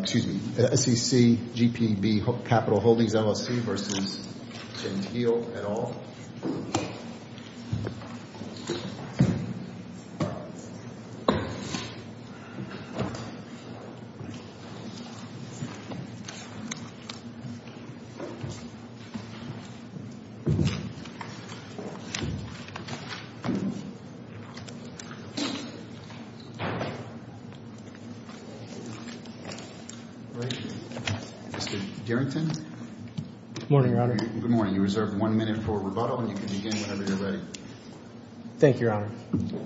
Excuse me, SEC, GPB Capital Holdings, LLC versus Chenteel et al. Mr. Derington. Good morning, Your Honor. Good morning. You're reserved one minute for rebuttal, and you can begin whenever you're ready. Thank you, Your Honor.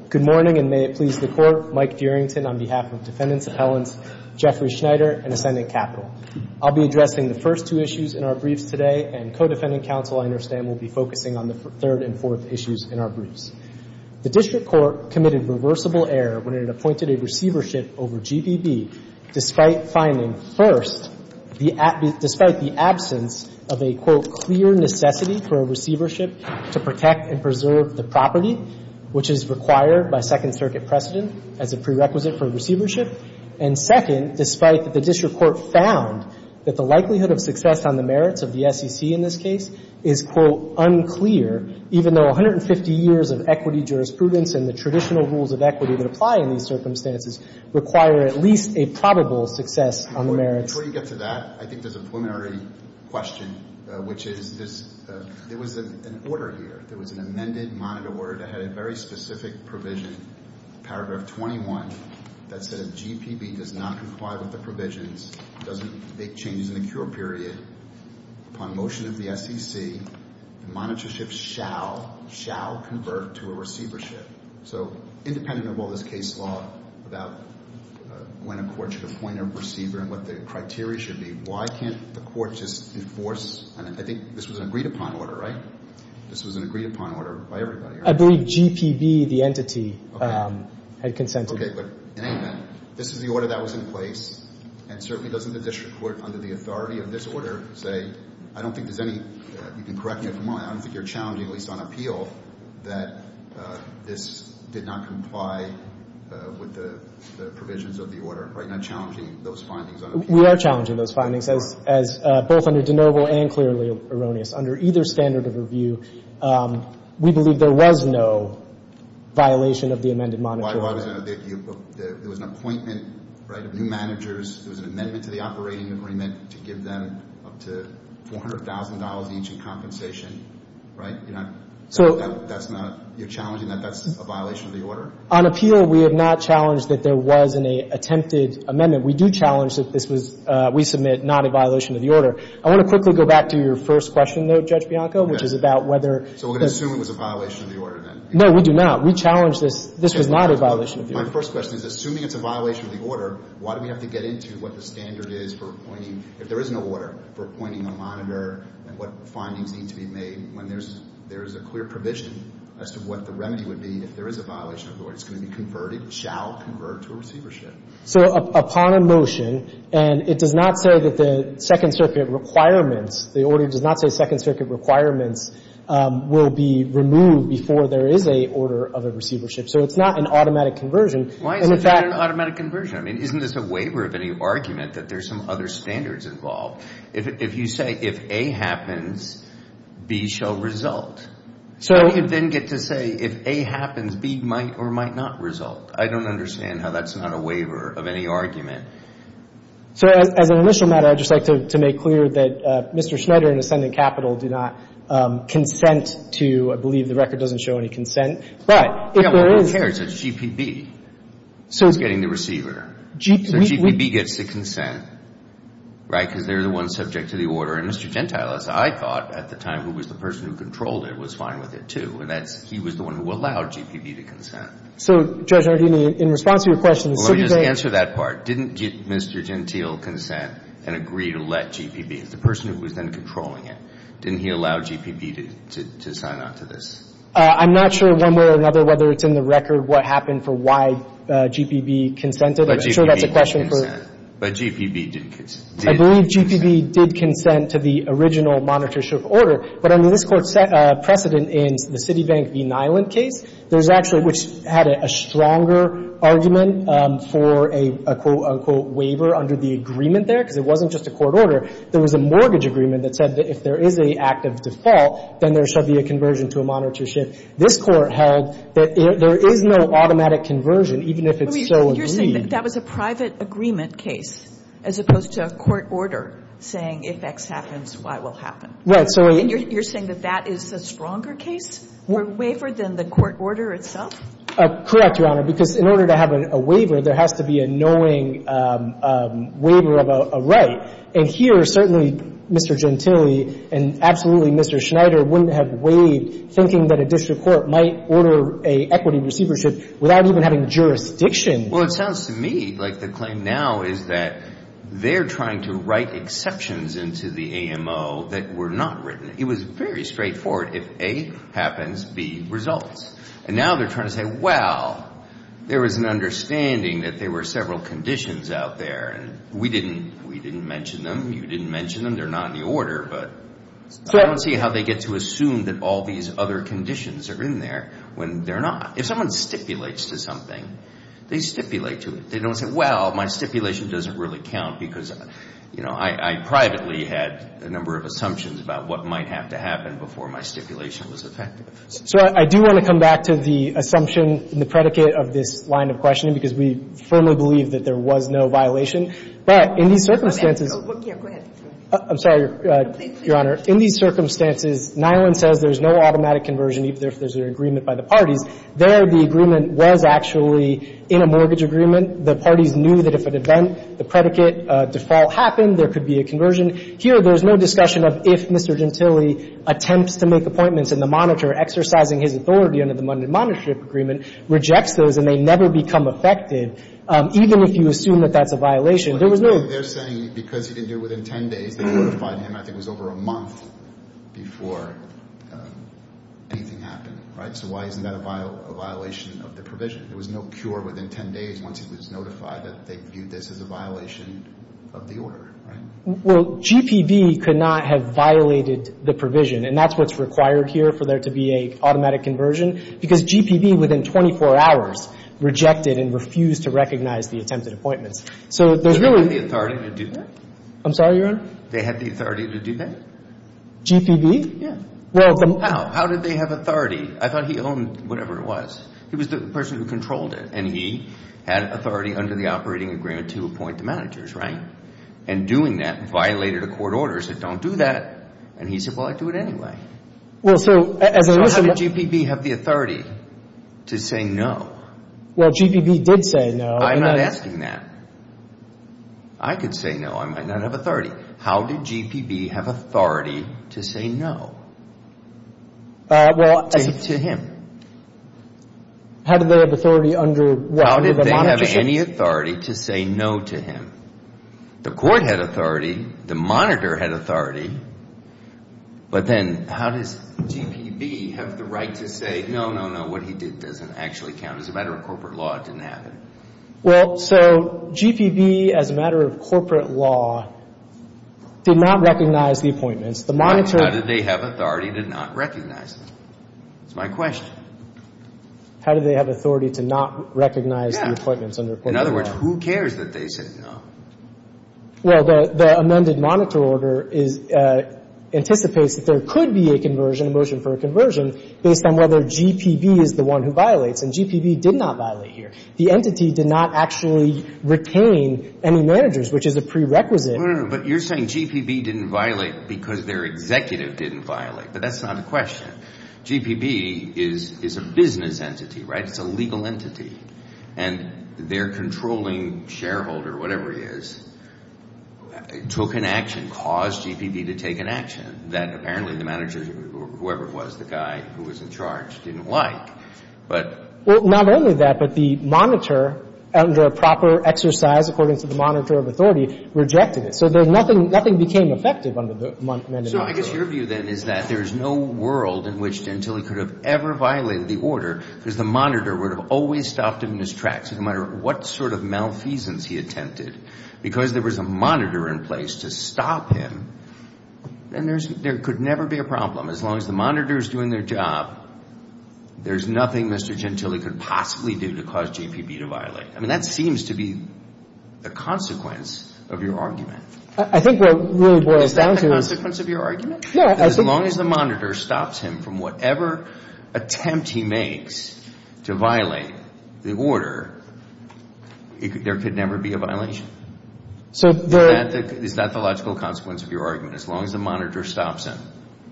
Good morning, and may it please the Court, Mike Derington on behalf of Defendants Appellants Jeffrey Schneider and Ascending Capital. I'll be addressing the first two issues in our briefs today, and co-defendant counsel, I understand, will be focusing on the third and fourth issues in our briefs. The district court committed reversible error when it appointed a receivership over GPB, despite finding, first, despite the absence of a, quote, clear necessity for a receivership to protect and preserve the property, which is required by Second Circuit precedent as a prerequisite for receivership. And second, despite the district court found that the likelihood of success on the merits of the SEC in this case is, quote, unclear, even though 150 years of equity jurisprudence and the traditional rules of equity that apply in these circumstances require at least a probable success on the merits. Before you get to that, I think there's a preliminary question, which is this, there was an order here. There was an amended monitor order that had a very specific provision, paragraph 21, that said if GPB does not comply with the provisions, doesn't make changes in the cure period, upon motion of the SEC, the monitorship shall, shall convert to a receivership. So independent of all this case law about when a court should appoint a receiver and what the criteria should be, why can't the court just enforce, and I think this was an agreed-upon order, right? This was an agreed-upon order by everybody, right? I believe GPB, the entity, had consented. Okay, but in any event, this is the order that was in place, and certainly doesn't the district court, under the authority of this order, say, I don't think there's any, you can correct me if I'm wrong, I don't think you're challenging, at least on appeal, that this did not comply with the provisions of the order, right? You're not challenging those findings on appeal? We are challenging those findings, as both under de novo and clearly erroneous. Under either standard of review, we believe there was no violation of the amended monitor order. Why was there no? There was an appointment, right, of new managers. There was an amendment to the operating agreement to give them up to $400,000 each in compensation, right? You're not, that's not, you're challenging that that's a violation of the order? On appeal, we have not challenged that there was an attempted amendment. We do challenge that this was, we submit not a violation of the order. I want to quickly go back to your first question, though, Judge Bianco, which is about whether. So we're going to assume it was a violation of the order then? No, we do not. We challenge this, this was not a violation of the order. My first question is, assuming it's a violation of the order, why do we have to get into what the standard is for appointing, if there is no order, for appointing a monitor and what findings need to be made when there's a clear provision as to what the remedy would be if there is a violation of the order? It's going to be converted, shall convert to a receivership. So upon a motion, and it does not say that the Second Circuit requirements, the order does not say Second Circuit requirements will be removed before there is a order of a receivership, so it's not an automatic conversion. Why is it not an automatic conversion? I mean, isn't this a waiver of any argument that there's some other standards involved? If you say if A happens, B shall result. So you then get to say if A happens, B might or might not result. I don't understand how that's not a waiver of any argument. So as an initial matter, I'd just like to make clear that Mr. Schneider and Ascendant Capital do not consent to, I believe the record doesn't show any consent, but if there is. Yeah, well, who cares? It's GPB who's getting the receiver. So GPB gets the consent, right? Because they're the ones subject to the order. And Mr. Gentile, as I thought at the time, who was the person who controlled it, was fine with it, too. And that's, he was the one who allowed GPB to consent. So, Judge Nardini, in response to your question, shouldn't they? Let me just answer that part. Didn't Mr. Gentile consent and agree to let GPB, the person who was then controlling it, didn't he allow GPB to sign on to this? I'm not sure one way or another whether it's in the record what happened for why GPB consented. I'm sure that's a question for. But GPB did consent. I believe GPB did consent to the original monetary shift order. But I mean, this Court set a precedent in the Citibank v. Nyland case. There's actually, which had a stronger argument for a, quote, unquote, waiver under the agreement there, because it wasn't just a court order. There was a mortgage agreement that said that if there is an active default, then there shall be a conversion to a monetary shift. This Court held that there is no automatic conversion, even if it's so agreed. So you're saying that that was a private agreement case as opposed to a court order saying if X happens, Y will happen? Right. So I. And you're saying that that is a stronger case or waiver than the court order itself? Correct, Your Honor, because in order to have a waiver, there has to be a knowing waiver of a right. And here, certainly, Mr. Gentile and absolutely Mr. Schneider wouldn't have waived thinking that a district court might order a equity receivership without even having jurisdiction. Well, it sounds to me like the claim now is that they're trying to write exceptions into the AMO that were not written. It was very straightforward. If A happens, B results. And now they're trying to say, well, there was an understanding that there were several conditions out there. And we didn't mention them. You didn't mention them. They're not in the order. But I don't see how they get to assume that all these other conditions are in there when they're not. If someone stipulates to something, they stipulate to it. They don't say, well, my stipulation doesn't really count because, you know, I privately had a number of assumptions about what might have to happen before my stipulation was effective. So I do want to come back to the assumption and the predicate of this line of questioning, because we firmly believe that there was no violation. But in these circumstances. Go ahead. I'm sorry, Your Honor. Please, please. In these circumstances, Nyland says there's no automatic conversion even if there's an agreement by the parties. There, the agreement was actually in a mortgage agreement. The parties knew that if an event, the predicate default happened, there could be a conversion. Here, there's no discussion of if Mr. Gentile attempts to make appointments in the monitor, exercising his authority under the Monday Monitorship Agreement, rejects those, and they never become effective, even if you assume that that's a violation. There was no. They're saying because he didn't do it within 10 days, they notified him, I think, was over a month before anything happened, right? So why isn't that a violation of the provision? There was no cure within 10 days once he was notified that they viewed this as a violation of the order, right? Well, GPB could not have violated the provision. And that's what's required here for there to be an automatic conversion, because GPB, within 24 hours, rejected and refused to recognize the attempted appointments. So there's really. They had the authority to do that? I'm sorry, Your Honor? They had the authority to do that? GPB? Yeah. How? How did they have authority? I thought he owned whatever it was. He was the person who controlled it, and he had authority under the operating agreement to appoint the managers, right? And doing that violated a court order that said don't do that. And he said, well, I'll do it anyway. So how did GPB have the authority to say no? Well, GPB did say no. I'm not asking that. I could say no. I might not have authority. How did GPB have authority to say no? Well. To him. How did they have authority under what? How did they have any authority to say no to him? The court had authority. The monitor had authority. But then how does GPB have the right to say, no, no, no, what he did doesn't actually count. It's a matter of corporate law. It didn't happen. Well, so GPB, as a matter of corporate law, did not recognize the appointments. The monitor. How did they have authority to not recognize them? That's my question. How did they have authority to not recognize the appointments under corporate Yeah. In other words, who cares that they said no? Well, the amended monitor order anticipates that there could be a conversion, a motion for a conversion, based on whether GPB is the one who violates. And GPB did not violate here. The entity did not actually retain any managers, which is a prerequisite. No, no, no. But you're saying GPB didn't violate because their executive didn't violate. But that's not a question. GPB is a business entity, right? It's a legal entity. And their controlling shareholder, whatever he is, took an action, caused GPB to take an action that apparently the manager, whoever it was, the guy who was in charge, didn't like. Well, not only that, but the monitor, under a proper exercise according to the monitor of authority, rejected it. So nothing became effective under the amended monitor order. So I guess your view, then, is that there is no world in which until he could have ever violated the order, because the monitor would have always stopped him in his tracks, no matter what sort of malfeasance he attempted. Because there was a monitor in place to stop him, then there could never be a problem. As long as the monitor is doing their job, there's nothing Mr. Gentile could possibly do to cause GPB to violate. I mean, that seems to be the consequence of your argument. I think what really boils down to... Is that the consequence of your argument? No, I think... As long as the monitor stops him from whatever attempt he makes to violate the order, there could never be a violation. So the... Is that the logical consequence of your argument? As long as the monitor stops him?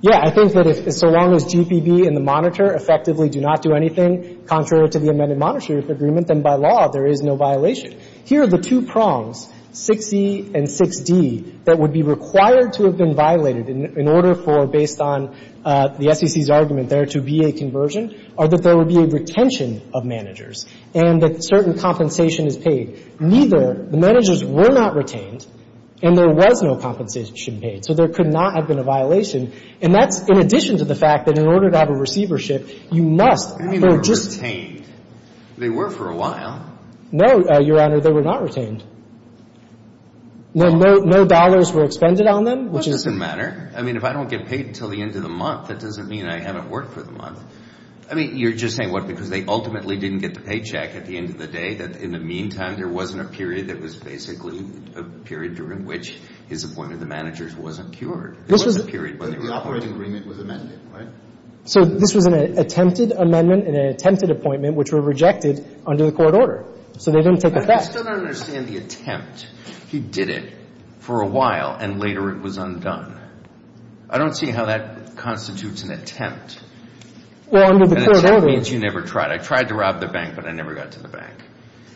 Yeah. I think that if so long as GPB and the monitor effectively do not do anything, contrary to the amended monitor agreement, then by law there is no violation. Here are the two prongs, 6E and 6D, that would be required to have been violated in order for, based on the SEC's argument there, to be a conversion, or that there would be a retention of managers, and that certain compensation is paid. Neither, the managers were not retained, and there was no compensation paid. So there could not have been a violation, and that's in addition to the fact that in order to have a receivership, you must... I mean, they were retained. They were for a while. No, Your Honor, they were not retained. Well... No dollars were expended on them, which is... That doesn't matter. I mean, if I don't get paid until the end of the month, that doesn't mean I haven't worked for the month. I mean, you're just saying, what, because they ultimately didn't get the paycheck at the end of the day, that in the meantime there wasn't a period that was basically a period during which his appointment of the managers wasn't cured. It wasn't a period where they were... The operating agreement was amended, right? So this was an attempted amendment and an attempted appointment, which were rejected under the court order. So they didn't take effect. I still don't understand the attempt. He did it for a while, and later it was undone. I don't see how that constitutes an attempt. Well, under the curability... An attempt means you never tried. I tried to rob the bank, but I never got to the bank.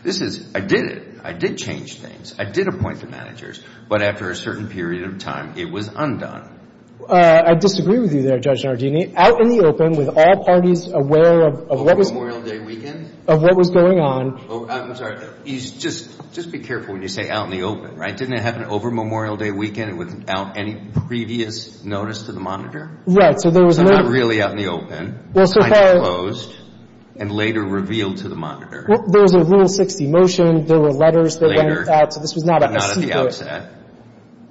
This is, I did it. I did change things. I did appoint the managers. But after a certain period of time, it was undone. I disagree with you there, Judge Nardini. Out in the open, with all parties aware of what was... Over Memorial Day weekend? Of what was going on. I'm sorry. Just be careful when you say out in the open, right? Didn't it happen over Memorial Day weekend without any previous notice to the monitor? Right. So there was no... So not really out in the open. I disclosed and later revealed to the monitor. There was a Rule 60 motion. There were letters that went out. So this was not a secret. Not at the outset.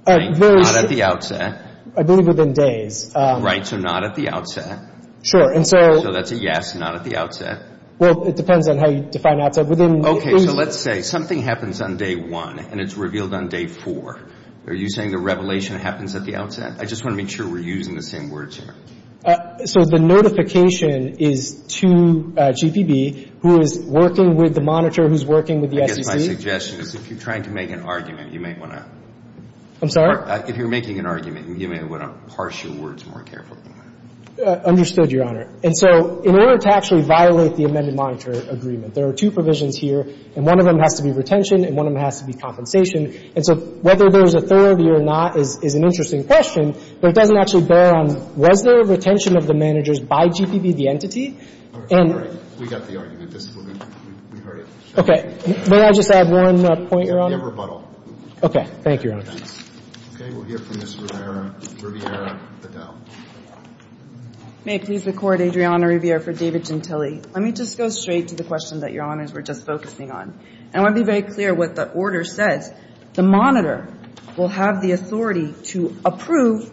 Not at the outset. I believe within days. Right. So not at the outset. Sure. And so... So that's a yes, not at the outset. Well, it depends on how you define outset. Okay. So let's say something happens on day one, and it's revealed on day four. Are you saying the revelation happens at the outset? I just want to make sure we're using the same words here. So the notification is to GPB, who is working with the monitor, who's working with the SEC. I guess my suggestion is if you're trying to make an argument, you may want to... I'm sorry? If you're making an argument, you may want to parse your words more carefully. Understood, Your Honor. And so in order to actually violate the amended monitor agreement, there are two provisions here, and one of them has to be retention and one of them has to be compensation. And so whether there's authority or not is an interesting question, but it doesn't actually bear on, was there a retention of the managers by GPB, the entity? And... We got the argument. We heard it. Okay. May I just add one point, Your Honor? You have rebuttal. Okay. Thank you, Your Honor. Okay. We'll hear from Ms. Rivera. Rivera, Adele. May it please the Court, Adriana Rivera for David Gentile. Let me just go straight to the question that Your Honors were just focusing on. And I want to be very clear what the order says. The monitor will have the authority to approve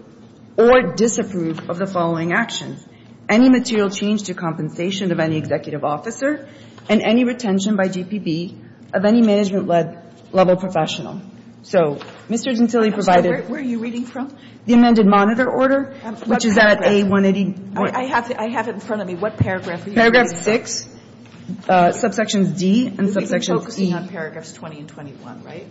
or disapprove of the following actions. Any material change to compensation of any executive officer and any retention by GPB of any management-led level professional. So Mr. Gentile provided... Where are you reading from? The amended monitor order, which is at A180... I have it in front of me. What paragraph are you reading? Paragraph 6, subsections D and subsection E. This is focusing on paragraphs 20 and 21, right?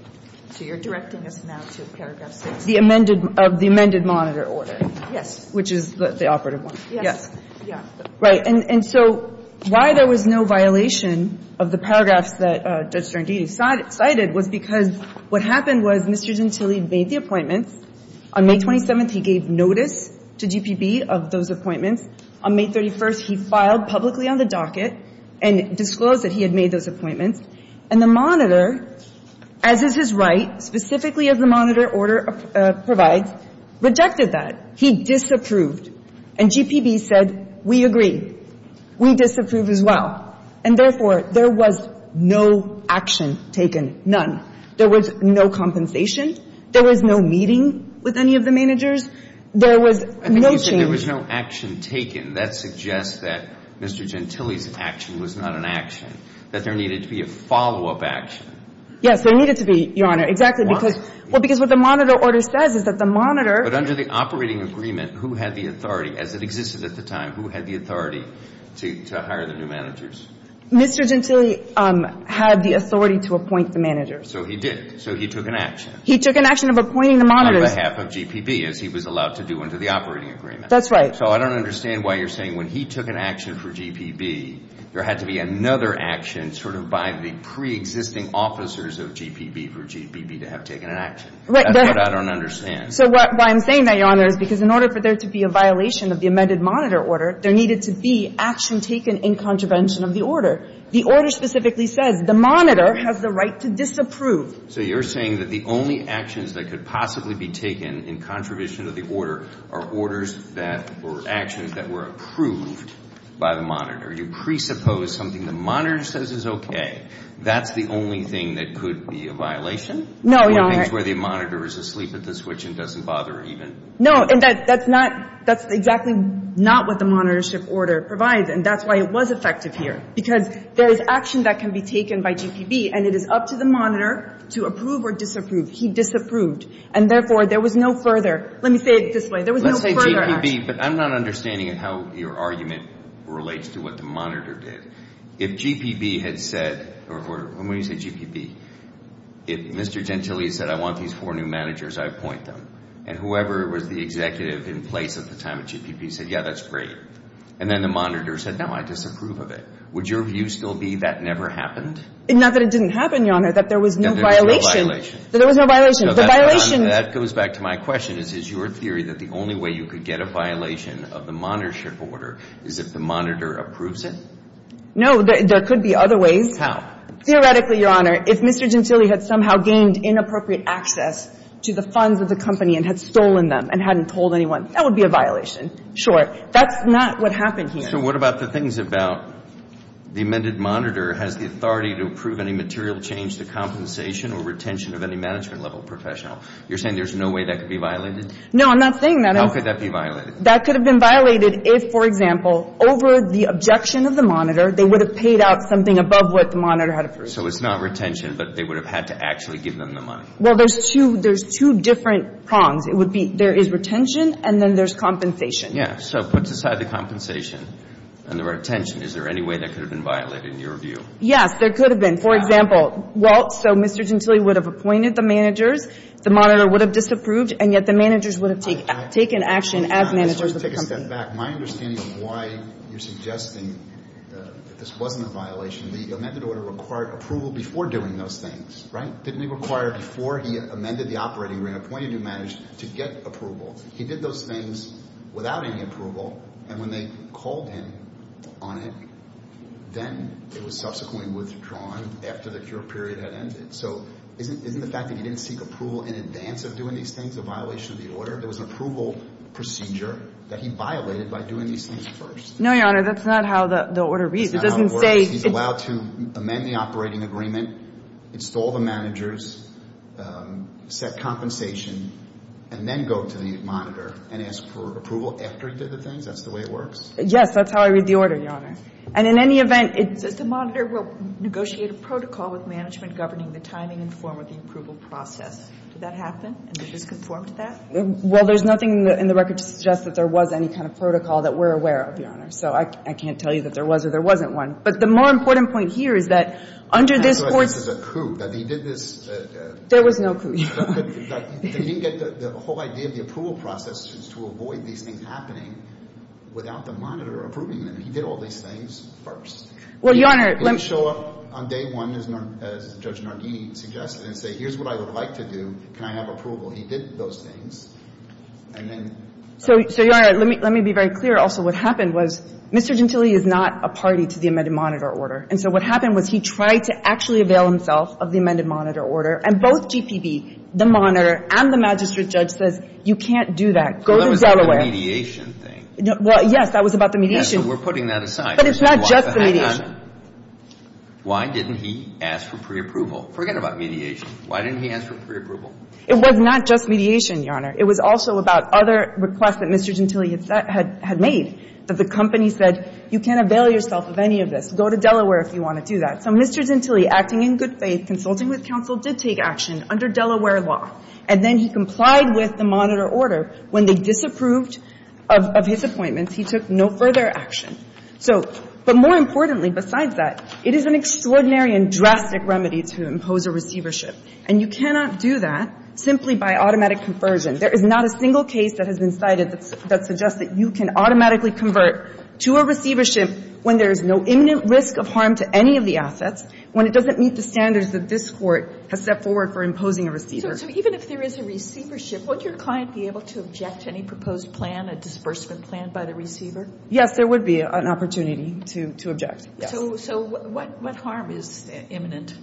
So you're directing us now to paragraph 6. The amended monitor order. Yes. Which is the operative one. Yes. Yeah. Right. And so why there was no violation of the paragraphs that Judge Srandini cited was because what happened was Mr. Gentile made the appointments. On May 27th, he gave notice to GPB of those appointments. On May 31st, he filed publicly on the docket and disclosed that he had made those appointments. And the monitor, as is his right, specifically as the monitor order provides, rejected that. He disapproved. And GPB said, we agree. We disapprove as well. And therefore, there was no action taken, none. There was no compensation. There was no meeting with any of the managers. There was no change. There was no action taken. That suggests that Mr. Gentile's action was not an action. That there needed to be a follow-up action. Yes. There needed to be, Your Honor. Why? Well, because what the monitor order says is that the monitor. But under the operating agreement, who had the authority, as it existed at the time, who had the authority to hire the new managers? Mr. Gentile had the authority to appoint the managers. So he did. So he took an action. He took an action of appointing the monitors. On behalf of GPB, as he was allowed to do under the operating agreement. That's right. So I don't understand why you're saying when he took an action for GPB, there had to be another action sort of by the preexisting officers of GPB for GPB to have taken an action. That's what I don't understand. So why I'm saying that, Your Honor, is because in order for there to be a violation of the amended monitor order, there needed to be action taken in contravention of the order. The order specifically says the monitor has the right to disapprove. So you're saying that the only actions that could possibly be taken in contravention of the order are orders that, or actions that were approved by the monitor. You presuppose something the monitor says is okay. That's the only thing that could be a violation? No, Your Honor. Or things where the monitor is asleep at the switch and doesn't bother even. No. And that's not, that's exactly not what the monitorship order provides. And that's why it was effective here. Because there is action that can be taken by GPB, and it is up to the monitor to approve or disapprove. He disapproved. And therefore, there was no further. Let me say it this way. There was no further action. Let's say GPB, but I'm not understanding how your argument relates to what the monitor did. If GPB had said, or when we say GPB, if Mr. Gentile said I want these four new managers, I appoint them. And whoever was the executive in place at the time of GPB said, yeah, that's great. And then the monitor said, no, I disapprove of it. Would your view still be that never happened? Not that it didn't happen, Your Honor. That there was no violation. That there was no violation. That there was no violation. The violation. That goes back to my question. Is your theory that the only way you could get a violation of the monitorship order is if the monitor approves it? No. There could be other ways. How? Theoretically, Your Honor, if Mr. Gentile had somehow gained inappropriate access to the funds of the company and had stolen them and hadn't told anyone, that would be a violation. Sure. That's not what happened here. So what about the things about the amended monitor has the authority to approve any material change to compensation or retention of any management-level professional? You're saying there's no way that could be violated? No, I'm not saying that. How could that be violated? That could have been violated if, for example, over the objection of the monitor, they would have paid out something above what the monitor had approved. So it's not retention, but they would have had to actually give them the money. Well, there's two different prongs. It would be there is retention and then there's compensation. Yeah. So put aside the compensation and the retention. Is there any way that could have been violated in your view? Yes, there could have been. For example, well, so Mr. Gentile would have appointed the managers. The monitor would have disapproved, and yet the managers would have taken action as managers of the company. Let's take a step back. My understanding of why you're suggesting that this wasn't a violation, the amended order required approval before doing those things, right? Didn't it require before he amended the operating agreement, appointed new managers to get approval? He did those things without any approval, and when they called him on it, then it was subsequently withdrawn after the cure period had ended. So isn't the fact that he didn't seek approval in advance of doing these things a violation of the order? There was an approval procedure that he violated by doing these things first. No, Your Honor. That's not how the order reads. It doesn't say he's allowed to amend the operating agreement, install the managers, set compensation, and then go to the monitor and ask for approval after he did the things? That's the way it works? Yes. That's how I read the order, Your Honor. Does the monitor negotiate a protocol with management governing the timing and form of the approval process? Did that happen? And did this conform to that? Well, there's nothing in the record to suggest that there was any kind of protocol that we're aware of, Your Honor. So I can't tell you that there was or there wasn't one. But the more important point here is that under this court's – I feel like this is a coup, that he did this – There was no coup. He didn't get the whole idea of the approval process to avoid these things happening without the monitor approving them. He did all these things first. Well, Your Honor – He didn't show up on day one, as Judge Nardini suggested, and say, here's what I would like to do. Can I have approval? He did those things. And then – So, Your Honor, let me be very clear. Also, what happened was Mr. Gentile is not a party to the amended monitor order. And so what happened was he tried to actually avail himself of the amended monitor order. And both GPB, the monitor, and the magistrate judge says, you can't do that. Go to Delaware. That was the mediation thing. Well, yes, that was about the mediation. Yes, but we're putting that aside. But it's not just the mediation. Hang on. Why didn't he ask for preapproval? Forget about mediation. Why didn't he ask for preapproval? It was not just mediation, Your Honor. It was also about other requests that Mr. Gentile had made, that the company said, you can't avail yourself of any of this. Go to Delaware if you want to do that. So Mr. Gentile, acting in good faith, consulting with counsel, did take action under Delaware law. And then he complied with the monitor order. When they disapproved of his appointments, he took no further action. So, but more importantly, besides that, it is an extraordinary and drastic remedy to impose a receivership. And you cannot do that simply by automatic conversion. There is not a single case that has been cited that suggests that you can automatically convert to a receivership when there is no imminent risk of harm to any of the assets, when it doesn't meet the standards that this Court has set forward for imposing a receivership. So even if there is a receivership, would your client be able to object to any proposed plan, a disbursement plan by the receiver? Yes, there would be an opportunity to object, yes. So what harm is imminent?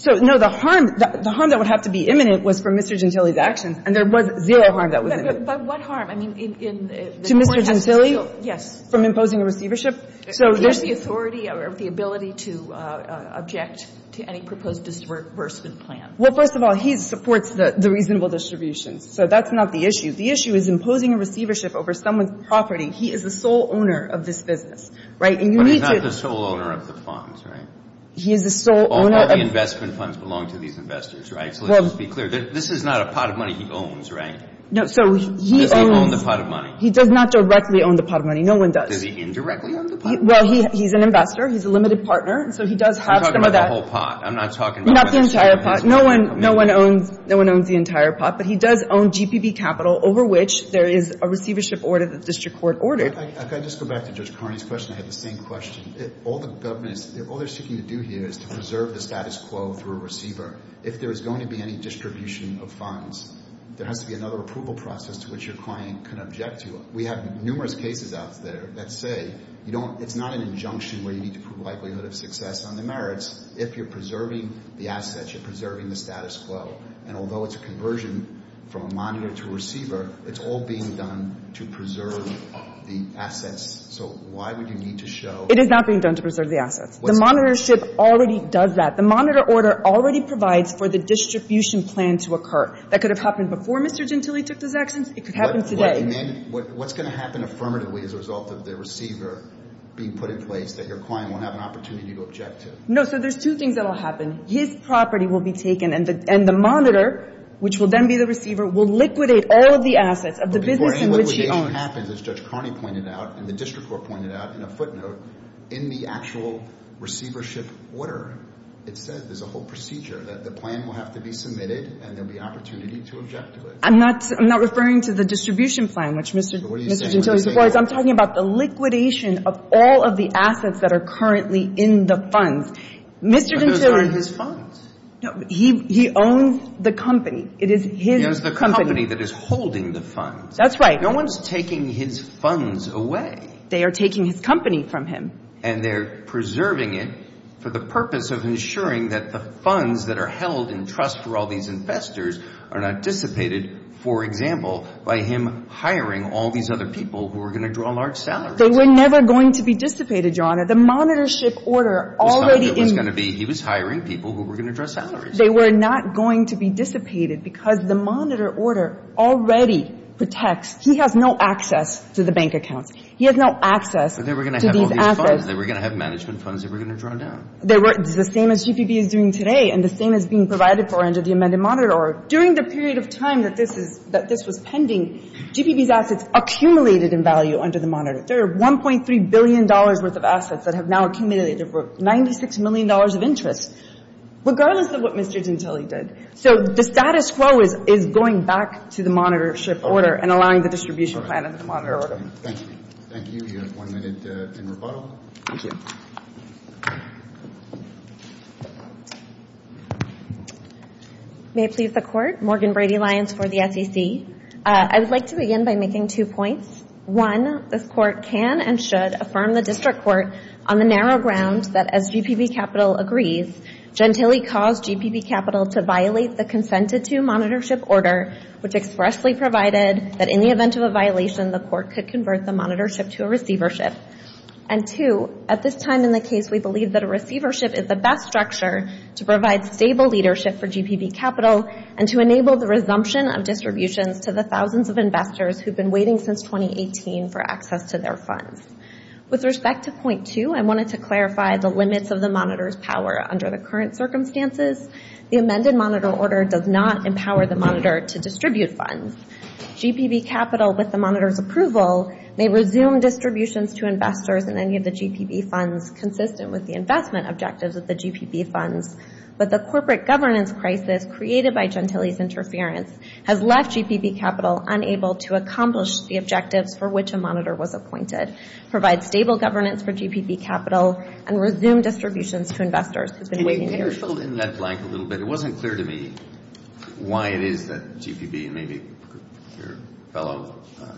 So, no, the harm that would have to be imminent was from Mr. Gentile's actions. And there was zero harm that was imminent. But what harm? I mean, in the court has still yes. From imposing a receivership? So there's the authority or the ability to object to any proposed disbursement plan. Well, first of all, he supports the reasonable distributions. So that's not the issue. The issue is imposing a receivership over someone's property. He is the sole owner of this business, right? And you need to. But he's not the sole owner of the funds, right? He is the sole owner of. All the investment funds belong to these investors, right? Well. So let's just be clear. This is not a pot of money he owns, right? No. So he owns. Does he own the pot of money? He does not directly own the pot of money. No one does. Does he indirectly own the pot of money? Well, he's an investor. He's a limited partner. And so he does have some of that. You're talking about the whole pot. I'm not talking about. Not the entire pot. No one. No one owns. No one owns the entire pot. But he does own GPB capital over which there is a receivership order that the district court ordered. If I could just go back to Judge Carney's question, I had the same question. All the government is. All they're seeking to do here is to preserve the status quo through a receiver. If there is going to be any distribution of funds, there has to be another approval process to which your client can object to it. We have numerous cases out there that say you don't. It's not an injunction where you need to prove likelihood of success on the merits. If you're preserving the assets, you're preserving the status quo. And although it's a conversion from a monitor to a receiver, it's all being done to preserve the assets. So why would you need to show. It is not being done to preserve the assets. The monitorship already does that. The monitor order already provides for the distribution plan to occur. That could have happened before Mr. Gentile took those actions. It could happen today. And then what's going to happen affirmatively as a result of the receiver being put in place that your client won't have an opportunity to object to? No, so there's two things that will happen. His property will be taken and the monitor, which will then be the receiver, will liquidate all of the assets of the business in which he owns. But before any liquidation happens, as Judge Carney pointed out and the district court pointed out in a footnote, in the actual receivership order, it says there's a whole procedure that the plan will have to be submitted and there will be opportunity to object to it. I'm not referring to the distribution plan, which Mr. Gentile supports. I'm talking about the liquidation of all of the assets that are currently in the funds. But those aren't his funds. He owns the company. It is his company. It is the company that is holding the funds. That's right. No one's taking his funds away. They are taking his company from him. And they're preserving it for the purpose of ensuring that the funds that are held in trust for all these investors are not dissipated, for example, by him hiring all these other people who are going to draw large salaries. They were never going to be dissipated, Your Honor. The monitorship order already in the ---- It was going to be he was hiring people who were going to draw salaries. They were not going to be dissipated because the monitor order already protects he has no access to the bank accounts. He has no access to these assets. But they were going to have all these funds. They were going to have management funds. They were going to draw down. It's the same as GPB is doing today and the same as being provided for under the amended monitor order. During the period of time that this was pending, GPB's assets accumulated in value under the monitor. There are $1.3 billion worth of assets that have now accumulated for $96 million of interest, regardless of what Mr. Dintelli did. So the status quo is going back to the monitorship order and allowing the distribution plan under the monitor order. Thank you. Thank you. You have one minute in rebuttal. Thank you. May it please the Court. Morgan Brady-Lyons for the SEC. I would like to begin by making two points. One, this Court can and should affirm the District Court on the narrow ground that as GPB Capital agrees, Dintelli caused GPB Capital to violate the consented-to monitorship order, which expressly provided that in the event of a violation, the Court could convert the monitorship to a receivership. And two, at this time in the case, we believe that a receivership is the best structure to provide stable leadership for GPB Capital and to enable the resumption of distributions to the thousands of investors who have been waiting since 2018 for access to their funds. With respect to point two, I wanted to clarify the limits of the monitor's power under the current circumstances. The amended monitor order does not empower the monitor to distribute funds. GPB Capital, with the monitor's approval, may resume distributions to investors in any of the GPB funds consistent with the investment objectives of the GPB funds. But the corporate governance crisis created by Dintelli's interference has left GPB Capital unable to accomplish the objectives for which a monitor was appointed, provide stable governance for GPB Capital, and resume distributions to investors who have been waiting years. Can you fill in that blank a little bit? It wasn't clear to me why it is that GPB, and maybe your fellow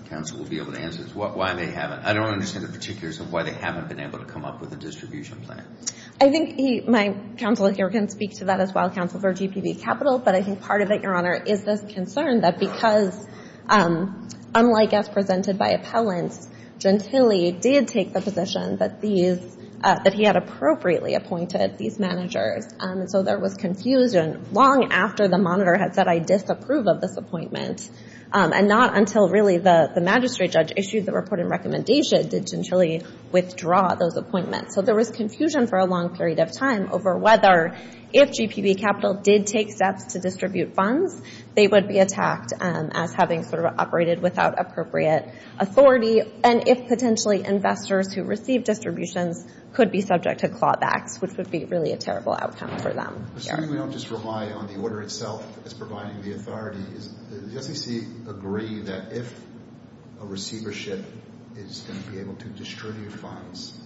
counsel will be able to answer this, why they haven't, I don't understand the particulars of why they haven't been able to come up with a distribution plan. I think my counsel here can speak to that as well, counsel for GPB Capital, but I think part of it, Your Honor, is this concern that because, unlike as presented by appellants, Dintelli did take the position that he had appropriately appointed these managers. So there was confusion long after the monitor had said, I disapprove of this appointment, and not until really the magistrate judge issued the reporting recommendation did Dintelli withdraw those appointments. So there was confusion for a long period of time over whether, if GPB Capital did take steps to distribute funds, they would be attacked as having sort of operated without appropriate authority, and if potentially investors who received distributions could be subject to clawbacks, which would be really a terrible outcome for them. Assuming we don't just rely on the order itself as providing the authority, does the SEC agree that if a receivership is going to be able to distribute funds,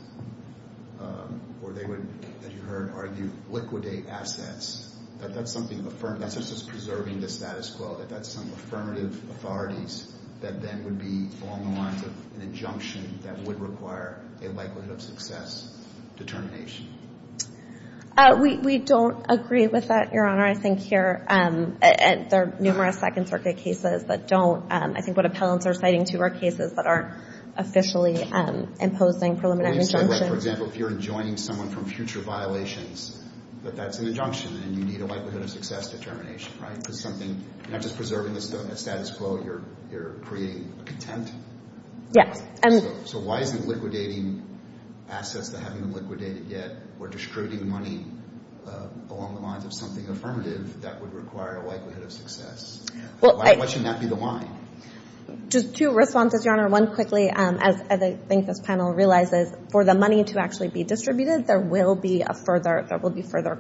or they would, as you heard argued, liquidate assets, that that's something affirmed, that's just as preserving the status quo, that that's some affirmative authorities that then would be along the lines of an injunction that would require a likelihood of success determination? We don't agree with that, Your Honor. I think here there are numerous Second Circuit cases that don't. I think what appellants are citing too are cases that aren't officially imposing preliminary injunctions. For example, if you're enjoining someone from future violations, that that's an injunction and you need a likelihood of success determination, right? Because something, not just preserving the status quo, you're creating a contempt? Yes. So why isn't liquidating assets that haven't been liquidated yet, or distributing money along the lines of something affirmative that would require a likelihood of success? Why shouldn't that be the why? Just two responses, Your Honor. One quickly, as I think this panel realizes, for the money to actually be distributed, there will be further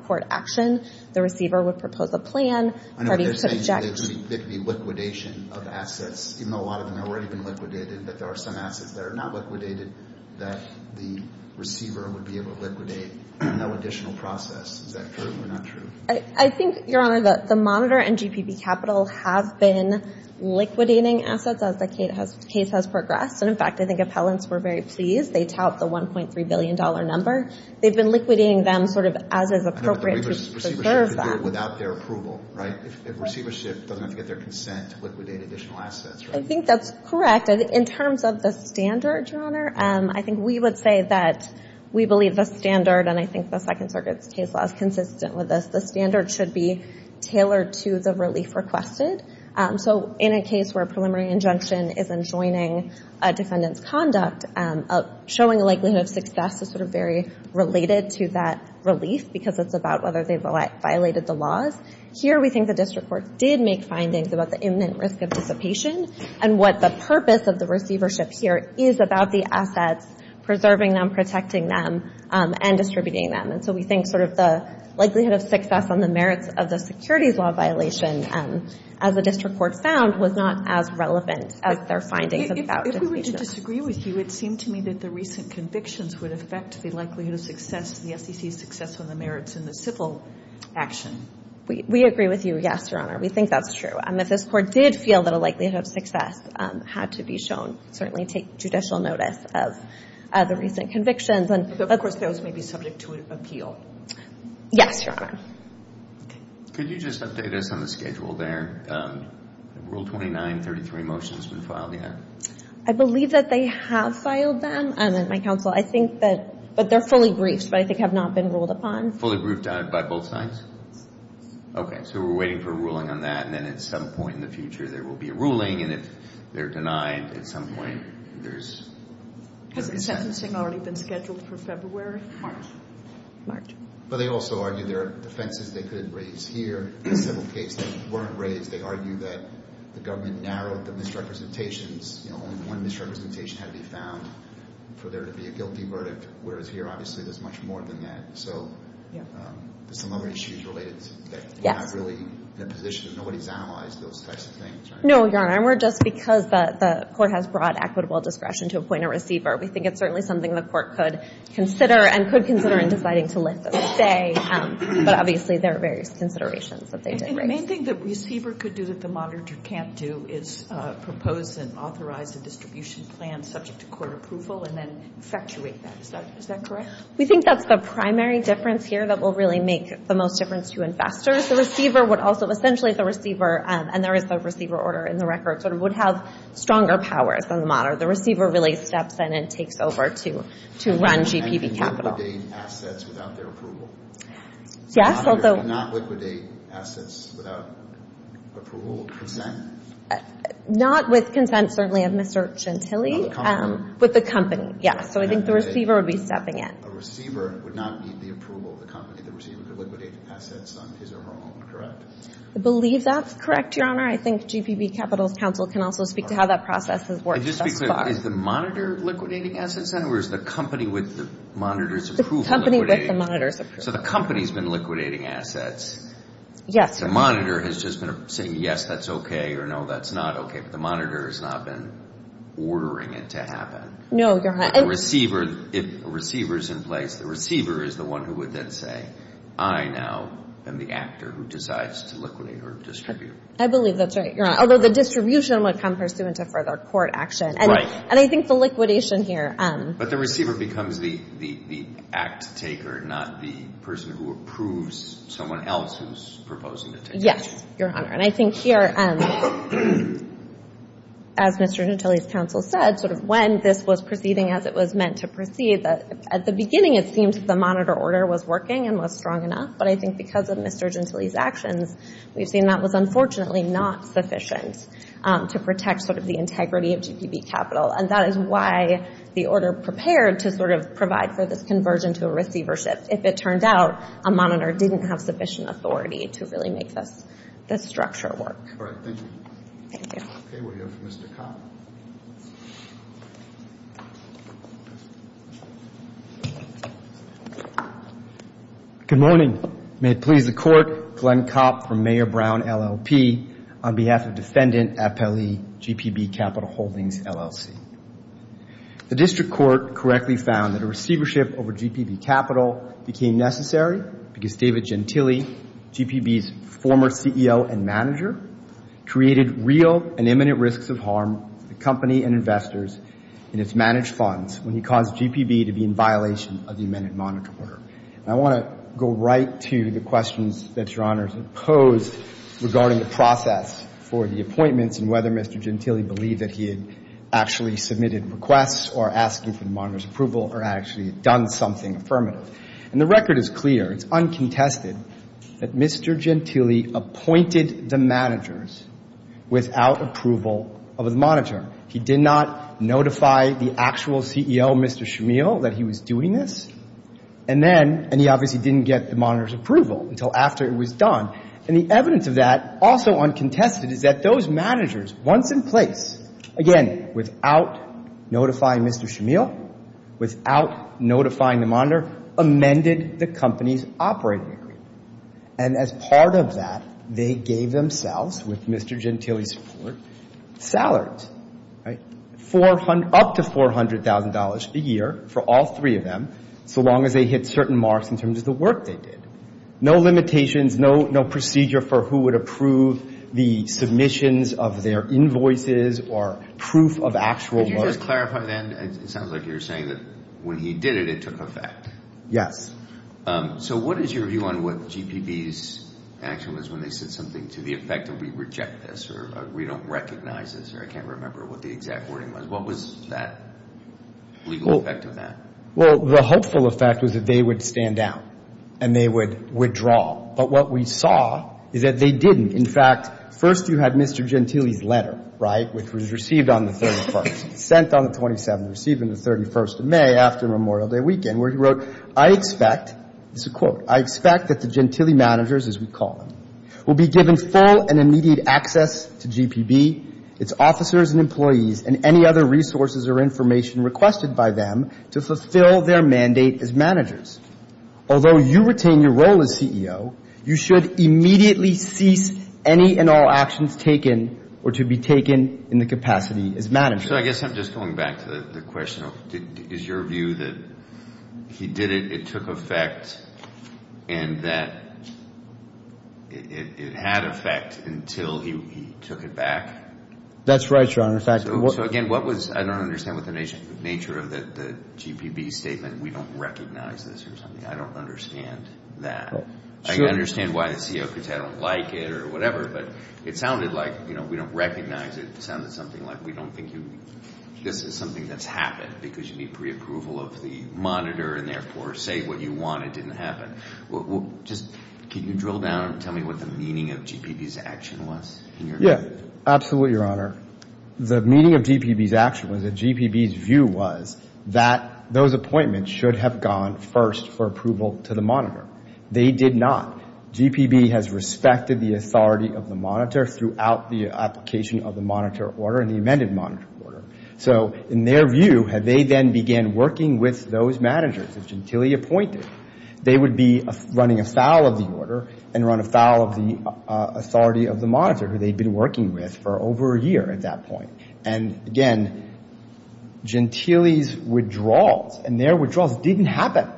court action. The receiver would propose a plan for it to be subject. There could be liquidation of assets, even though a lot of them have already been liquidated, but there are some assets that are not liquidated that the receiver would be able to liquidate. No additional process. Is that true or not true? I think, Your Honor, that the monitor and GPB Capital have been liquidating assets as the case has progressed. And, in fact, I think appellants were very pleased. They tout the $1.3 billion number. They've been liquidating them sort of as is appropriate to preserve them. But the receivership could do it without their approval, right? If receivership doesn't have to get their consent to liquidate additional assets, right? I think that's correct. In terms of the standard, Your Honor, I think we would say that we believe the standard, and I think the Second Circuit's case law is consistent with this, the standard should be tailored to the relief requested. So in a case where a preliminary injunction isn't joining a defendant's conduct, showing a likelihood of success is sort of very related to that relief because it's about whether they've violated the laws. Here we think the district court did make findings about the imminent risk of dissipation and what the purpose of the receivership here is about the assets, preserving them, protecting them, and distributing them. And so we think sort of the likelihood of success on the merits of the securities law violation, as the district court found, was not as relevant as their findings about dissipation. If we were to disagree with you, it seemed to me that the recent convictions would affect the likelihood of success, the SEC's success on the merits in the civil action. We agree with you, yes, Your Honor. We think that's true. If this court did feel that a likelihood of success had to be shown, certainly take judicial notice of the recent convictions. But, of course, those may be subject to appeal. Yes, Your Honor. Could you just update us on the schedule there? Rule 2933 motion's been filed yet. I believe that they have filed them. My counsel, I think that they're fully briefed, but I think have not been ruled upon. Fully briefed by both sides? Yes. Okay, so we're waiting for a ruling on that, and then at some point in the future there will be a ruling, and if they're denied, at some point there's a resentment. Has the sentencing already been scheduled for February? March. March. But they also argue there are offenses they could have raised here in the civil case that weren't raised. They argue that the government narrowed the misrepresentations. You know, only one misrepresentation had to be found for there to be a guilty verdict, whereas here, obviously, there's much more than that. So there's some other issues related to that. Yes. We're not really in a position that nobody's analyzed those types of things, right? No, Your Honor, and we're just because the court has broad equitable discretion to appoint a receiver. We think it's certainly something the court could consider and could consider in deciding to lift and stay, but obviously there are various considerations that they did raise. The main thing the receiver could do that the monitor can't do is propose and authorize a distribution plan subject to court approval and then infatuate that. Is that correct? We think that's the primary difference here that will really make the most difference to investors. The receiver would also, essentially, the receiver, and there is a receiver order in the record, would have stronger powers than the monitor. The receiver really steps in and takes over to run GPB capital. And can liquidate assets without their approval. Yes. The monitor cannot liquidate assets without approval or consent? Not with consent, certainly, of Mr. Chantilly. With the company. With the company, yes. So I think the receiver would be stepping in. A receiver would not need the approval of the company. The receiver could liquidate assets on his or her own, correct? I believe that's correct, Your Honor. I think GPB Capital's counsel can also speak to how that process has worked thus far. Just to be clear, is the monitor liquidating assets then, or is the company with the monitor's approval liquidating? The company with the monitor's approval. So the company's been liquidating assets. Yes. The monitor has just been saying, yes, that's okay, or no, that's not okay. But the monitor has not been ordering it to happen. No, Your Honor. The receiver is in place. The receiver is the one who would then say, I now am the actor who decides to liquidate or distribute. I believe that's right, Your Honor. Although the distribution would come pursuant to further court action. Right. And I think the liquidation here. But the receiver becomes the act taker, not the person who approves someone else who's proposing the liquidation. Yes, Your Honor. And I think here, as Mr. Gentile's counsel said, sort of when this was proceeding as it was meant to proceed, at the beginning it seemed that the monitor order was working and was strong enough. But I think because of Mr. Gentile's actions, we've seen that was unfortunately not sufficient to protect sort of the integrity of GPB Capital. And that is why the order prepared to sort of provide for this conversion to a receiver shift. If it turned out a monitor didn't have sufficient authority to really make this structure work. All right. Thank you. Thank you. Okay. We'll go to Mr. Kopp. Good morning. May it please the Court. Glenn Kopp from Mayor Brown, LLP, on behalf of Defendant FLE, GPB Capital Holdings, LLC. The district court correctly found that a receiver shift over GPB Capital became necessary because David Gentile, GPB's former CEO and manager, created real and imminent risks of harm to the company and investors in its managed funds when he caused GPB to be in violation of the amended monitor order. And I want to go right to the questions that Your Honors have posed regarding the process for the appointments and whether Mr. Gentile believed that he had actually submitted requests or asked for the monitor's approval or actually done something affirmative. And the record is clear. It's uncontested that Mr. Gentile appointed the managers without approval of the monitor. He did not notify the actual CEO, Mr. Shamil, that he was doing this. And then, and he obviously didn't get the monitor's approval until after it was done. And the evidence of that, also uncontested, is that those managers, once in place, again, without notifying Mr. Shamil, without notifying the monitor, amended the company's operating agreement. And as part of that, they gave themselves, with Mr. Gentile's support, up to $400,000 a year for all three of them, so long as they hit certain marks in terms of the work they did. No limitations, no procedure for who would approve the submissions of their invoices or proof of actual work. Could you just clarify that? It sounds like you're saying that when he did it, it took effect. Yes. So what is your view on what GPB's action was when they said something to the effect that we reject this or we don't recognize this or I can't remember what the exact wording was? What was that legal effect of that? Well, the hopeful effect was that they would stand down and they would withdraw. But what we saw is that they didn't. In fact, first you had Mr. Gentile's letter, right, which was received on the 31st, sent on the 27th, received on the 31st of May after Memorial Day weekend, where he wrote, I expect, this is a quote, I expect that the Gentile managers, as we call them, will be given full and immediate access to GPB, its officers and employees, and any other resources or information requested by them to fulfill their mandate as managers. Although you retain your role as CEO, you should immediately cease any and all actions taken or to be taken in the capacity as managers. So I guess I'm just going back to the question of is your view that he did it, it took effect, and that it had effect until he took it back? That's right, Your Honor. So again, what was, I don't understand what the nature of the GPB statement, we don't recognize this or something, I don't understand that. I understand why the CEO could say I don't like it or whatever, but it sounded like, you know, we don't recognize it, it sounded something like, we don't think this is something that's happened because you need preapproval of the monitor and therefore say what you want, it didn't happen. Just can you drill down and tell me what the meaning of GPB's action was? Yeah, absolutely, Your Honor. The meaning of GPB's action was that GPB's view was that those appointments should have gone first for approval to the monitor. They did not. GPB has respected the authority of the monitor throughout the application of the monitor order and the amended monitor order. So in their view, had they then began working with those managers that Gentile appointed, they would be running afoul of the order and run afoul of the authority of the monitor, who they'd been working with for over a year at that point. And again, Gentile's withdrawals and their withdrawals didn't happen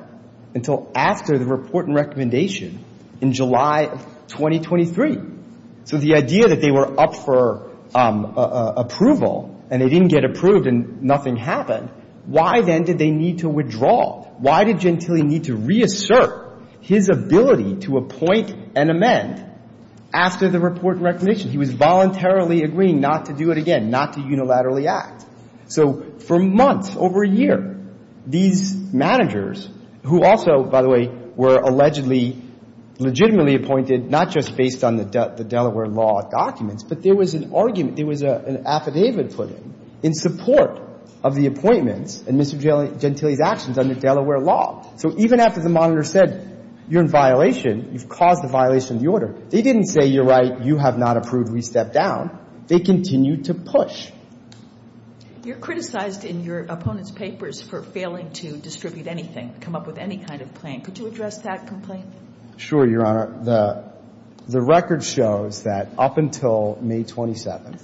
until after the report and recommendation in July of 2023. So the idea that they were up for approval and they didn't get approved and nothing happened, why then did they need to withdraw? Why did Gentile need to reassert his ability to appoint and amend after the report and recommendation? He was voluntarily agreeing not to do it again, not to unilaterally act. So for months, over a year, these managers, who also, by the way, were allegedly legitimately appointed, not just based on the Delaware law documents, but there was an argument, there was an affidavit put in in support of the appointments and Mr. Gentile's actions under Delaware law. So even after the monitor said, you're in violation, you've caused a violation of the order, they didn't say, you're right, you have not approved, we step down. They continued to push. You're criticized in your opponent's papers for failing to distribute anything, come up with any kind of plan. Could you address that complaint? Sure, Your Honor. The record shows that up until May 27th,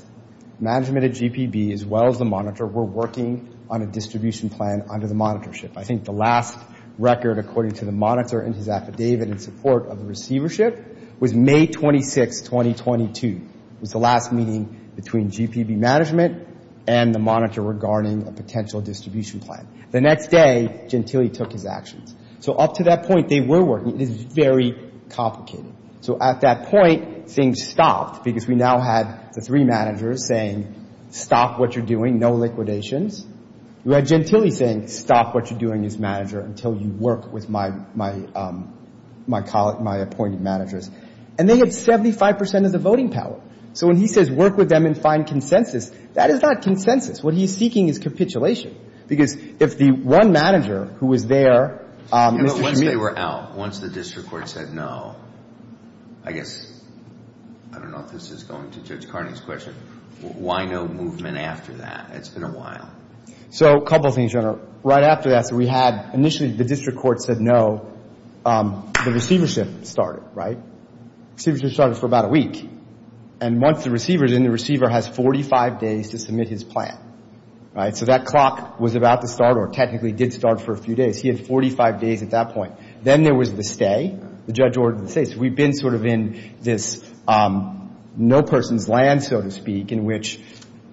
management at GPB, as well as the monitor, were working on a distribution plan under the monitorship. I think the last record, according to the monitor and his affidavit in support of the receivership, was May 26th, 2022. It was the last meeting between GPB management and the monitor regarding a potential distribution plan. The next day, Gentile took his actions. So up to that point, they were working. It is very complicated. So at that point, things stopped because we now had the three managers saying, stop what you're doing, no liquidations. You had Gentile saying, stop what you're doing as manager until you work with my appointed managers. And they had 75 percent of the voting power. So when he says work with them and find consensus, that is not consensus. What he's seeking is capitulation. Because if the one manager who was there, Mr. Kmele. Once they were out, once the district court said no, I guess, I don't know if this is going to Judge Carney's question, why no movement after that? It's been a while. So a couple of things, Your Honor. Right after that, we had initially the district court said no. The receivership started, right? Receivership started for about a week. And once the receiver is in, the receiver has 45 days to submit his plan. So that clock was about to start or technically did start for a few days. He had 45 days at that point. Then there was the stay. The judge ordered the stay. We've been sort of in this no person's land, so to speak, in which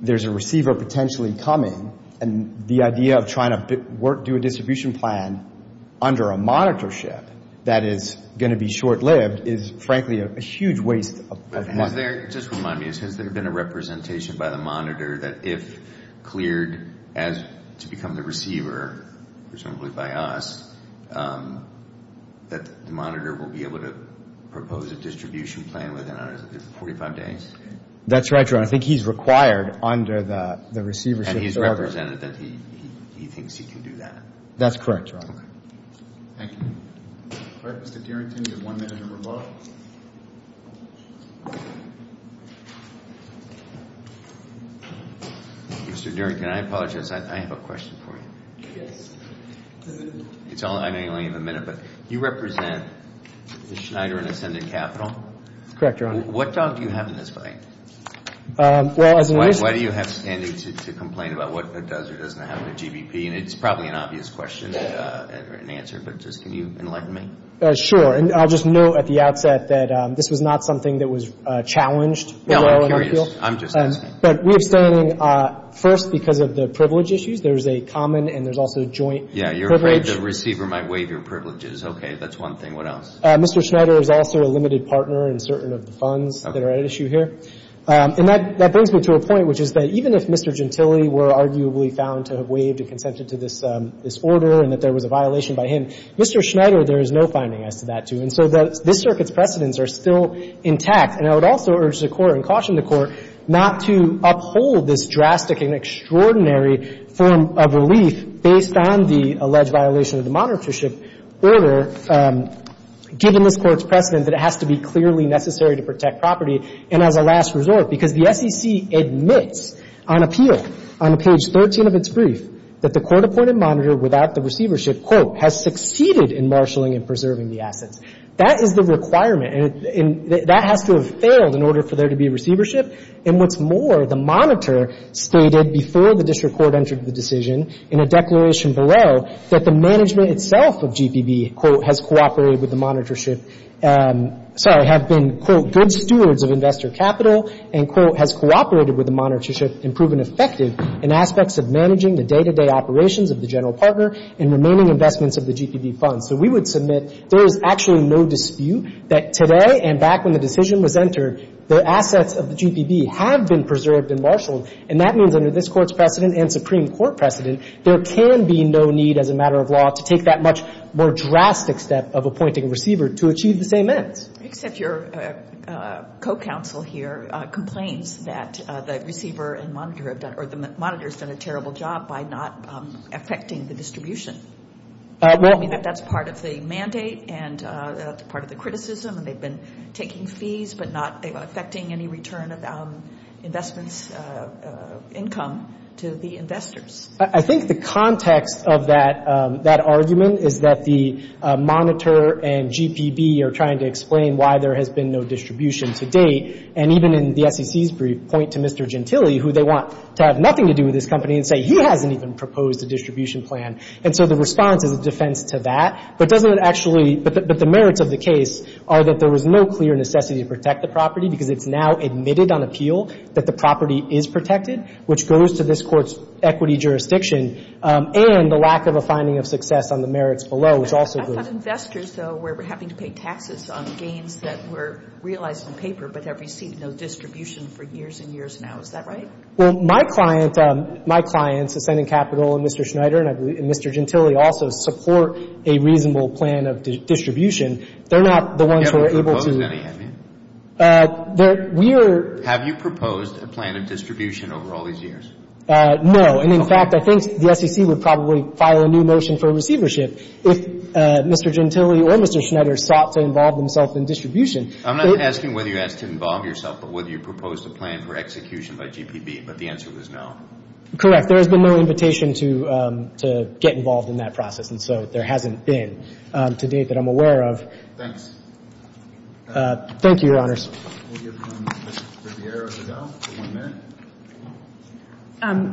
there's a receiver potentially coming. And the idea of trying to do a distribution plan under a monitorship that is going to be short-lived is, frankly, a huge waste of money. Just remind me, has there been a representation by the monitor that if cleared to become the receiver, presumably by us, that the monitor will be able to propose a distribution plan within 45 days? That's right, Your Honor. I think he's required under the receivership order. And he's represented that he thinks he can do that. That's correct, Your Honor. Thank you. All right, Mr. Derington, you have one minute to revoke. Mr. Derington, I apologize. I have a question for you. Yes. I know you only have a minute, but you represent Schneider and Ascendant Capital. Correct, Your Honor. What dog do you have in this fight? Why do you have standing to complain about what does or doesn't happen to GBP? And it's probably an obvious question or an answer, but just can you enlighten me? Sure. And I'll just note at the outset that this was not something that was challenged. I'm curious. I'm just asking. But we have standing, first, because of the privilege issues. There's a common and there's also joint privilege. Yeah, you're afraid the receiver might waive your privileges. Okay, that's one thing. What else? Mr. Schneider is also a limited partner in certain of the funds that are at issue here. And that brings me to a point, which is that even if Mr. Gentile were arguably found to have waived and consented to this order and that there was a violation by him, Mr. Schneider, there is no finding as to that, too. And so this circuit's precedents are still intact. And I would also urge the Court and caution the Court not to uphold this drastic and extraordinary form of relief based on the alleged violation of the monitorship order, given this Court's precedent that it has to be clearly necessary to protect property. And as a last resort, because the SEC admits on appeal, on page 13 of its brief, that the court-appointed monitor without the receivership, quote, has succeeded in marshaling and preserving the assets. That is the requirement. And that has to have failed in order for there to be receivership. And what's more, the monitor stated before the district court entered the decision in a declaration below that the management itself of GPB, quote, has cooperated with the monitorship, sorry, have been, quote, good stewards of investor capital and, quote, has cooperated with the monitorship and proven effective in aspects of managing the day-to-day operations of the general partner and remaining investments of the GPB funds. So we would submit there is actually no dispute that today and back when the decision was entered, the assets of the GPB have been preserved and marshaled. And that means under this Court's precedent and Supreme Court precedent, there can be no need as a matter of law to take that much more drastic step of appointing a receiver to achieve the same ends. Except your co-counsel here complains that the receiver and monitor have done or the monitor has done a terrible job by not affecting the distribution. That's part of the mandate and part of the criticism and they've been taking fees but not affecting any return of investments income to the investors. I think the context of that argument is that the monitor and GPB are trying to explain why there has been no distribution to date. And even in the SEC's brief point to Mr. Gentile, who they want to have nothing to do with this company, and say he hasn't even proposed a distribution plan. And so the response is a defense to that. But doesn't it actually – but the merits of the case are that there was no clear necessity to protect the property because it's now admitted on appeal that the property is protected, which goes to this Court's equity jurisdiction. And the lack of a finding of success on the merits below is also good. I thought investors, though, were having to pay taxes on gains that were realized in paper but have received no distribution for years and years now. Is that right? Well, my client – my clients, Ascending Capital and Mr. Schneider and Mr. Gentile, also support a reasonable plan of distribution. They're not the ones who are able to – You haven't proposed any, have you? We are – Have you proposed a plan of distribution over all these years? No. And, in fact, I think the SEC would probably file a new motion for receivership if Mr. Gentile or Mr. Schneider sought to involve themselves in distribution. I'm not asking whether you asked to involve yourself, but whether you proposed a plan for execution by GPB. But the answer was no. Correct. There has been no invitation to get involved in that process, and so there hasn't been to date that I'm aware of. Thanks. Thank you, Your Honors. We'll give Ms. Riviere a go for one minute.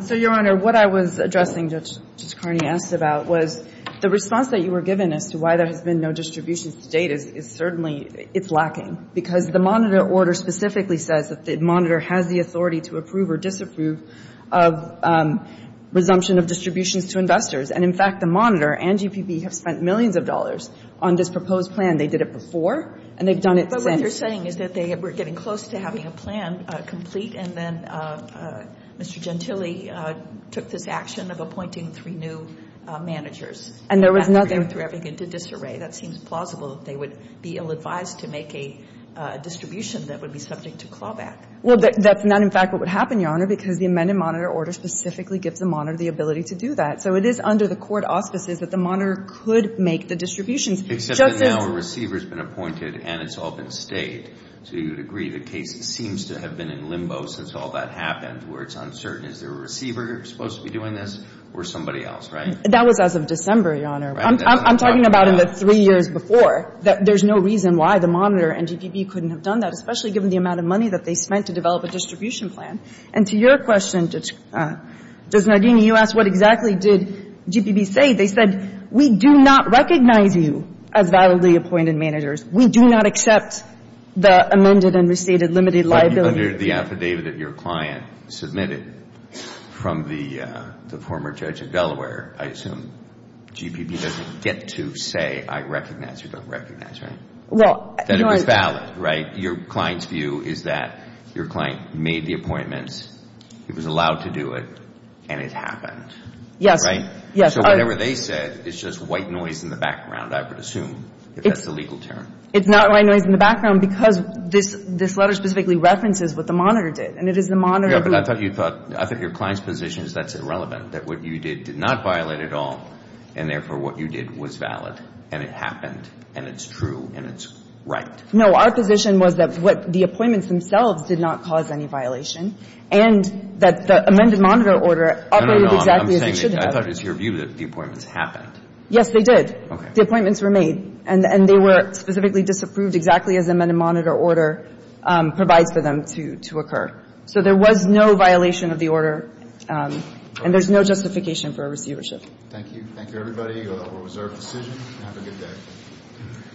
So, Your Honor, what I was addressing, Judge Carney asked about, was the response that you were given as to why there has been no distributions to date is certainly it's lacking, because the monitor order specifically says that the monitor has the authority to approve or disapprove of resumption of distributions to investors. And, in fact, the monitor and GPB have spent millions of dollars on this proposed plan. They did it before, and they've done it since. But what you're saying is that they were getting close to having a plan complete, and then Mr. Gentile took this action of appointing three new managers. And there was nothing. They went through everything into disarray. That seems plausible. They would be ill-advised to make a distribution that would be subject to clawback. Well, that's not, in fact, what would happen, Your Honor, because the amended monitor order specifically gives the monitor the ability to do that. So it is under the court auspices that the monitor could make the distributions. Except that now a receiver has been appointed and it's all been stayed. So you would agree the case seems to have been in limbo since all that happened, where it's uncertain is there a receiver supposed to be doing this or somebody else, right? That was as of December, Your Honor. I'm talking about in the three years before that there's no reason why the monitor and GPB couldn't have done that, especially given the amount of money that they spent to develop a distribution plan. And to your question, Judge Nardini, you asked what exactly did GPB say. They said, we do not recognize you as validly appointed managers. We do not accept the amended and restated limited liability. But under the affidavit that your client submitted from the former judge of Delaware, I assume GPB doesn't get to say I recognize or don't recognize, right? Well, Your Honor. That it was valid, right? Your client's view is that your client made the appointments, he was allowed to do it, and it happened. Yes. Right? Yes. So whatever they said is just white noise in the background, I would assume, if that's the legal term. It's not white noise in the background because this letter specifically references what the monitor did. And it is the monitor. I thought your client's position is that's irrelevant. That what you did did not violate at all. And therefore, what you did was valid. And it happened. And it's true. And it's right. No. Our position was that the appointments themselves did not cause any violation. And that the amended monitor order operated exactly as it should have. I'm saying that I thought it was your view that the appointments happened. Yes, they did. Okay. The appointments were made. And they were specifically disapproved exactly as amended monitor order provides for them to occur. So there was no violation of the order. And there's no justification for a receivership. Thank you. Thank you, everybody. That was our decision. Have a good day.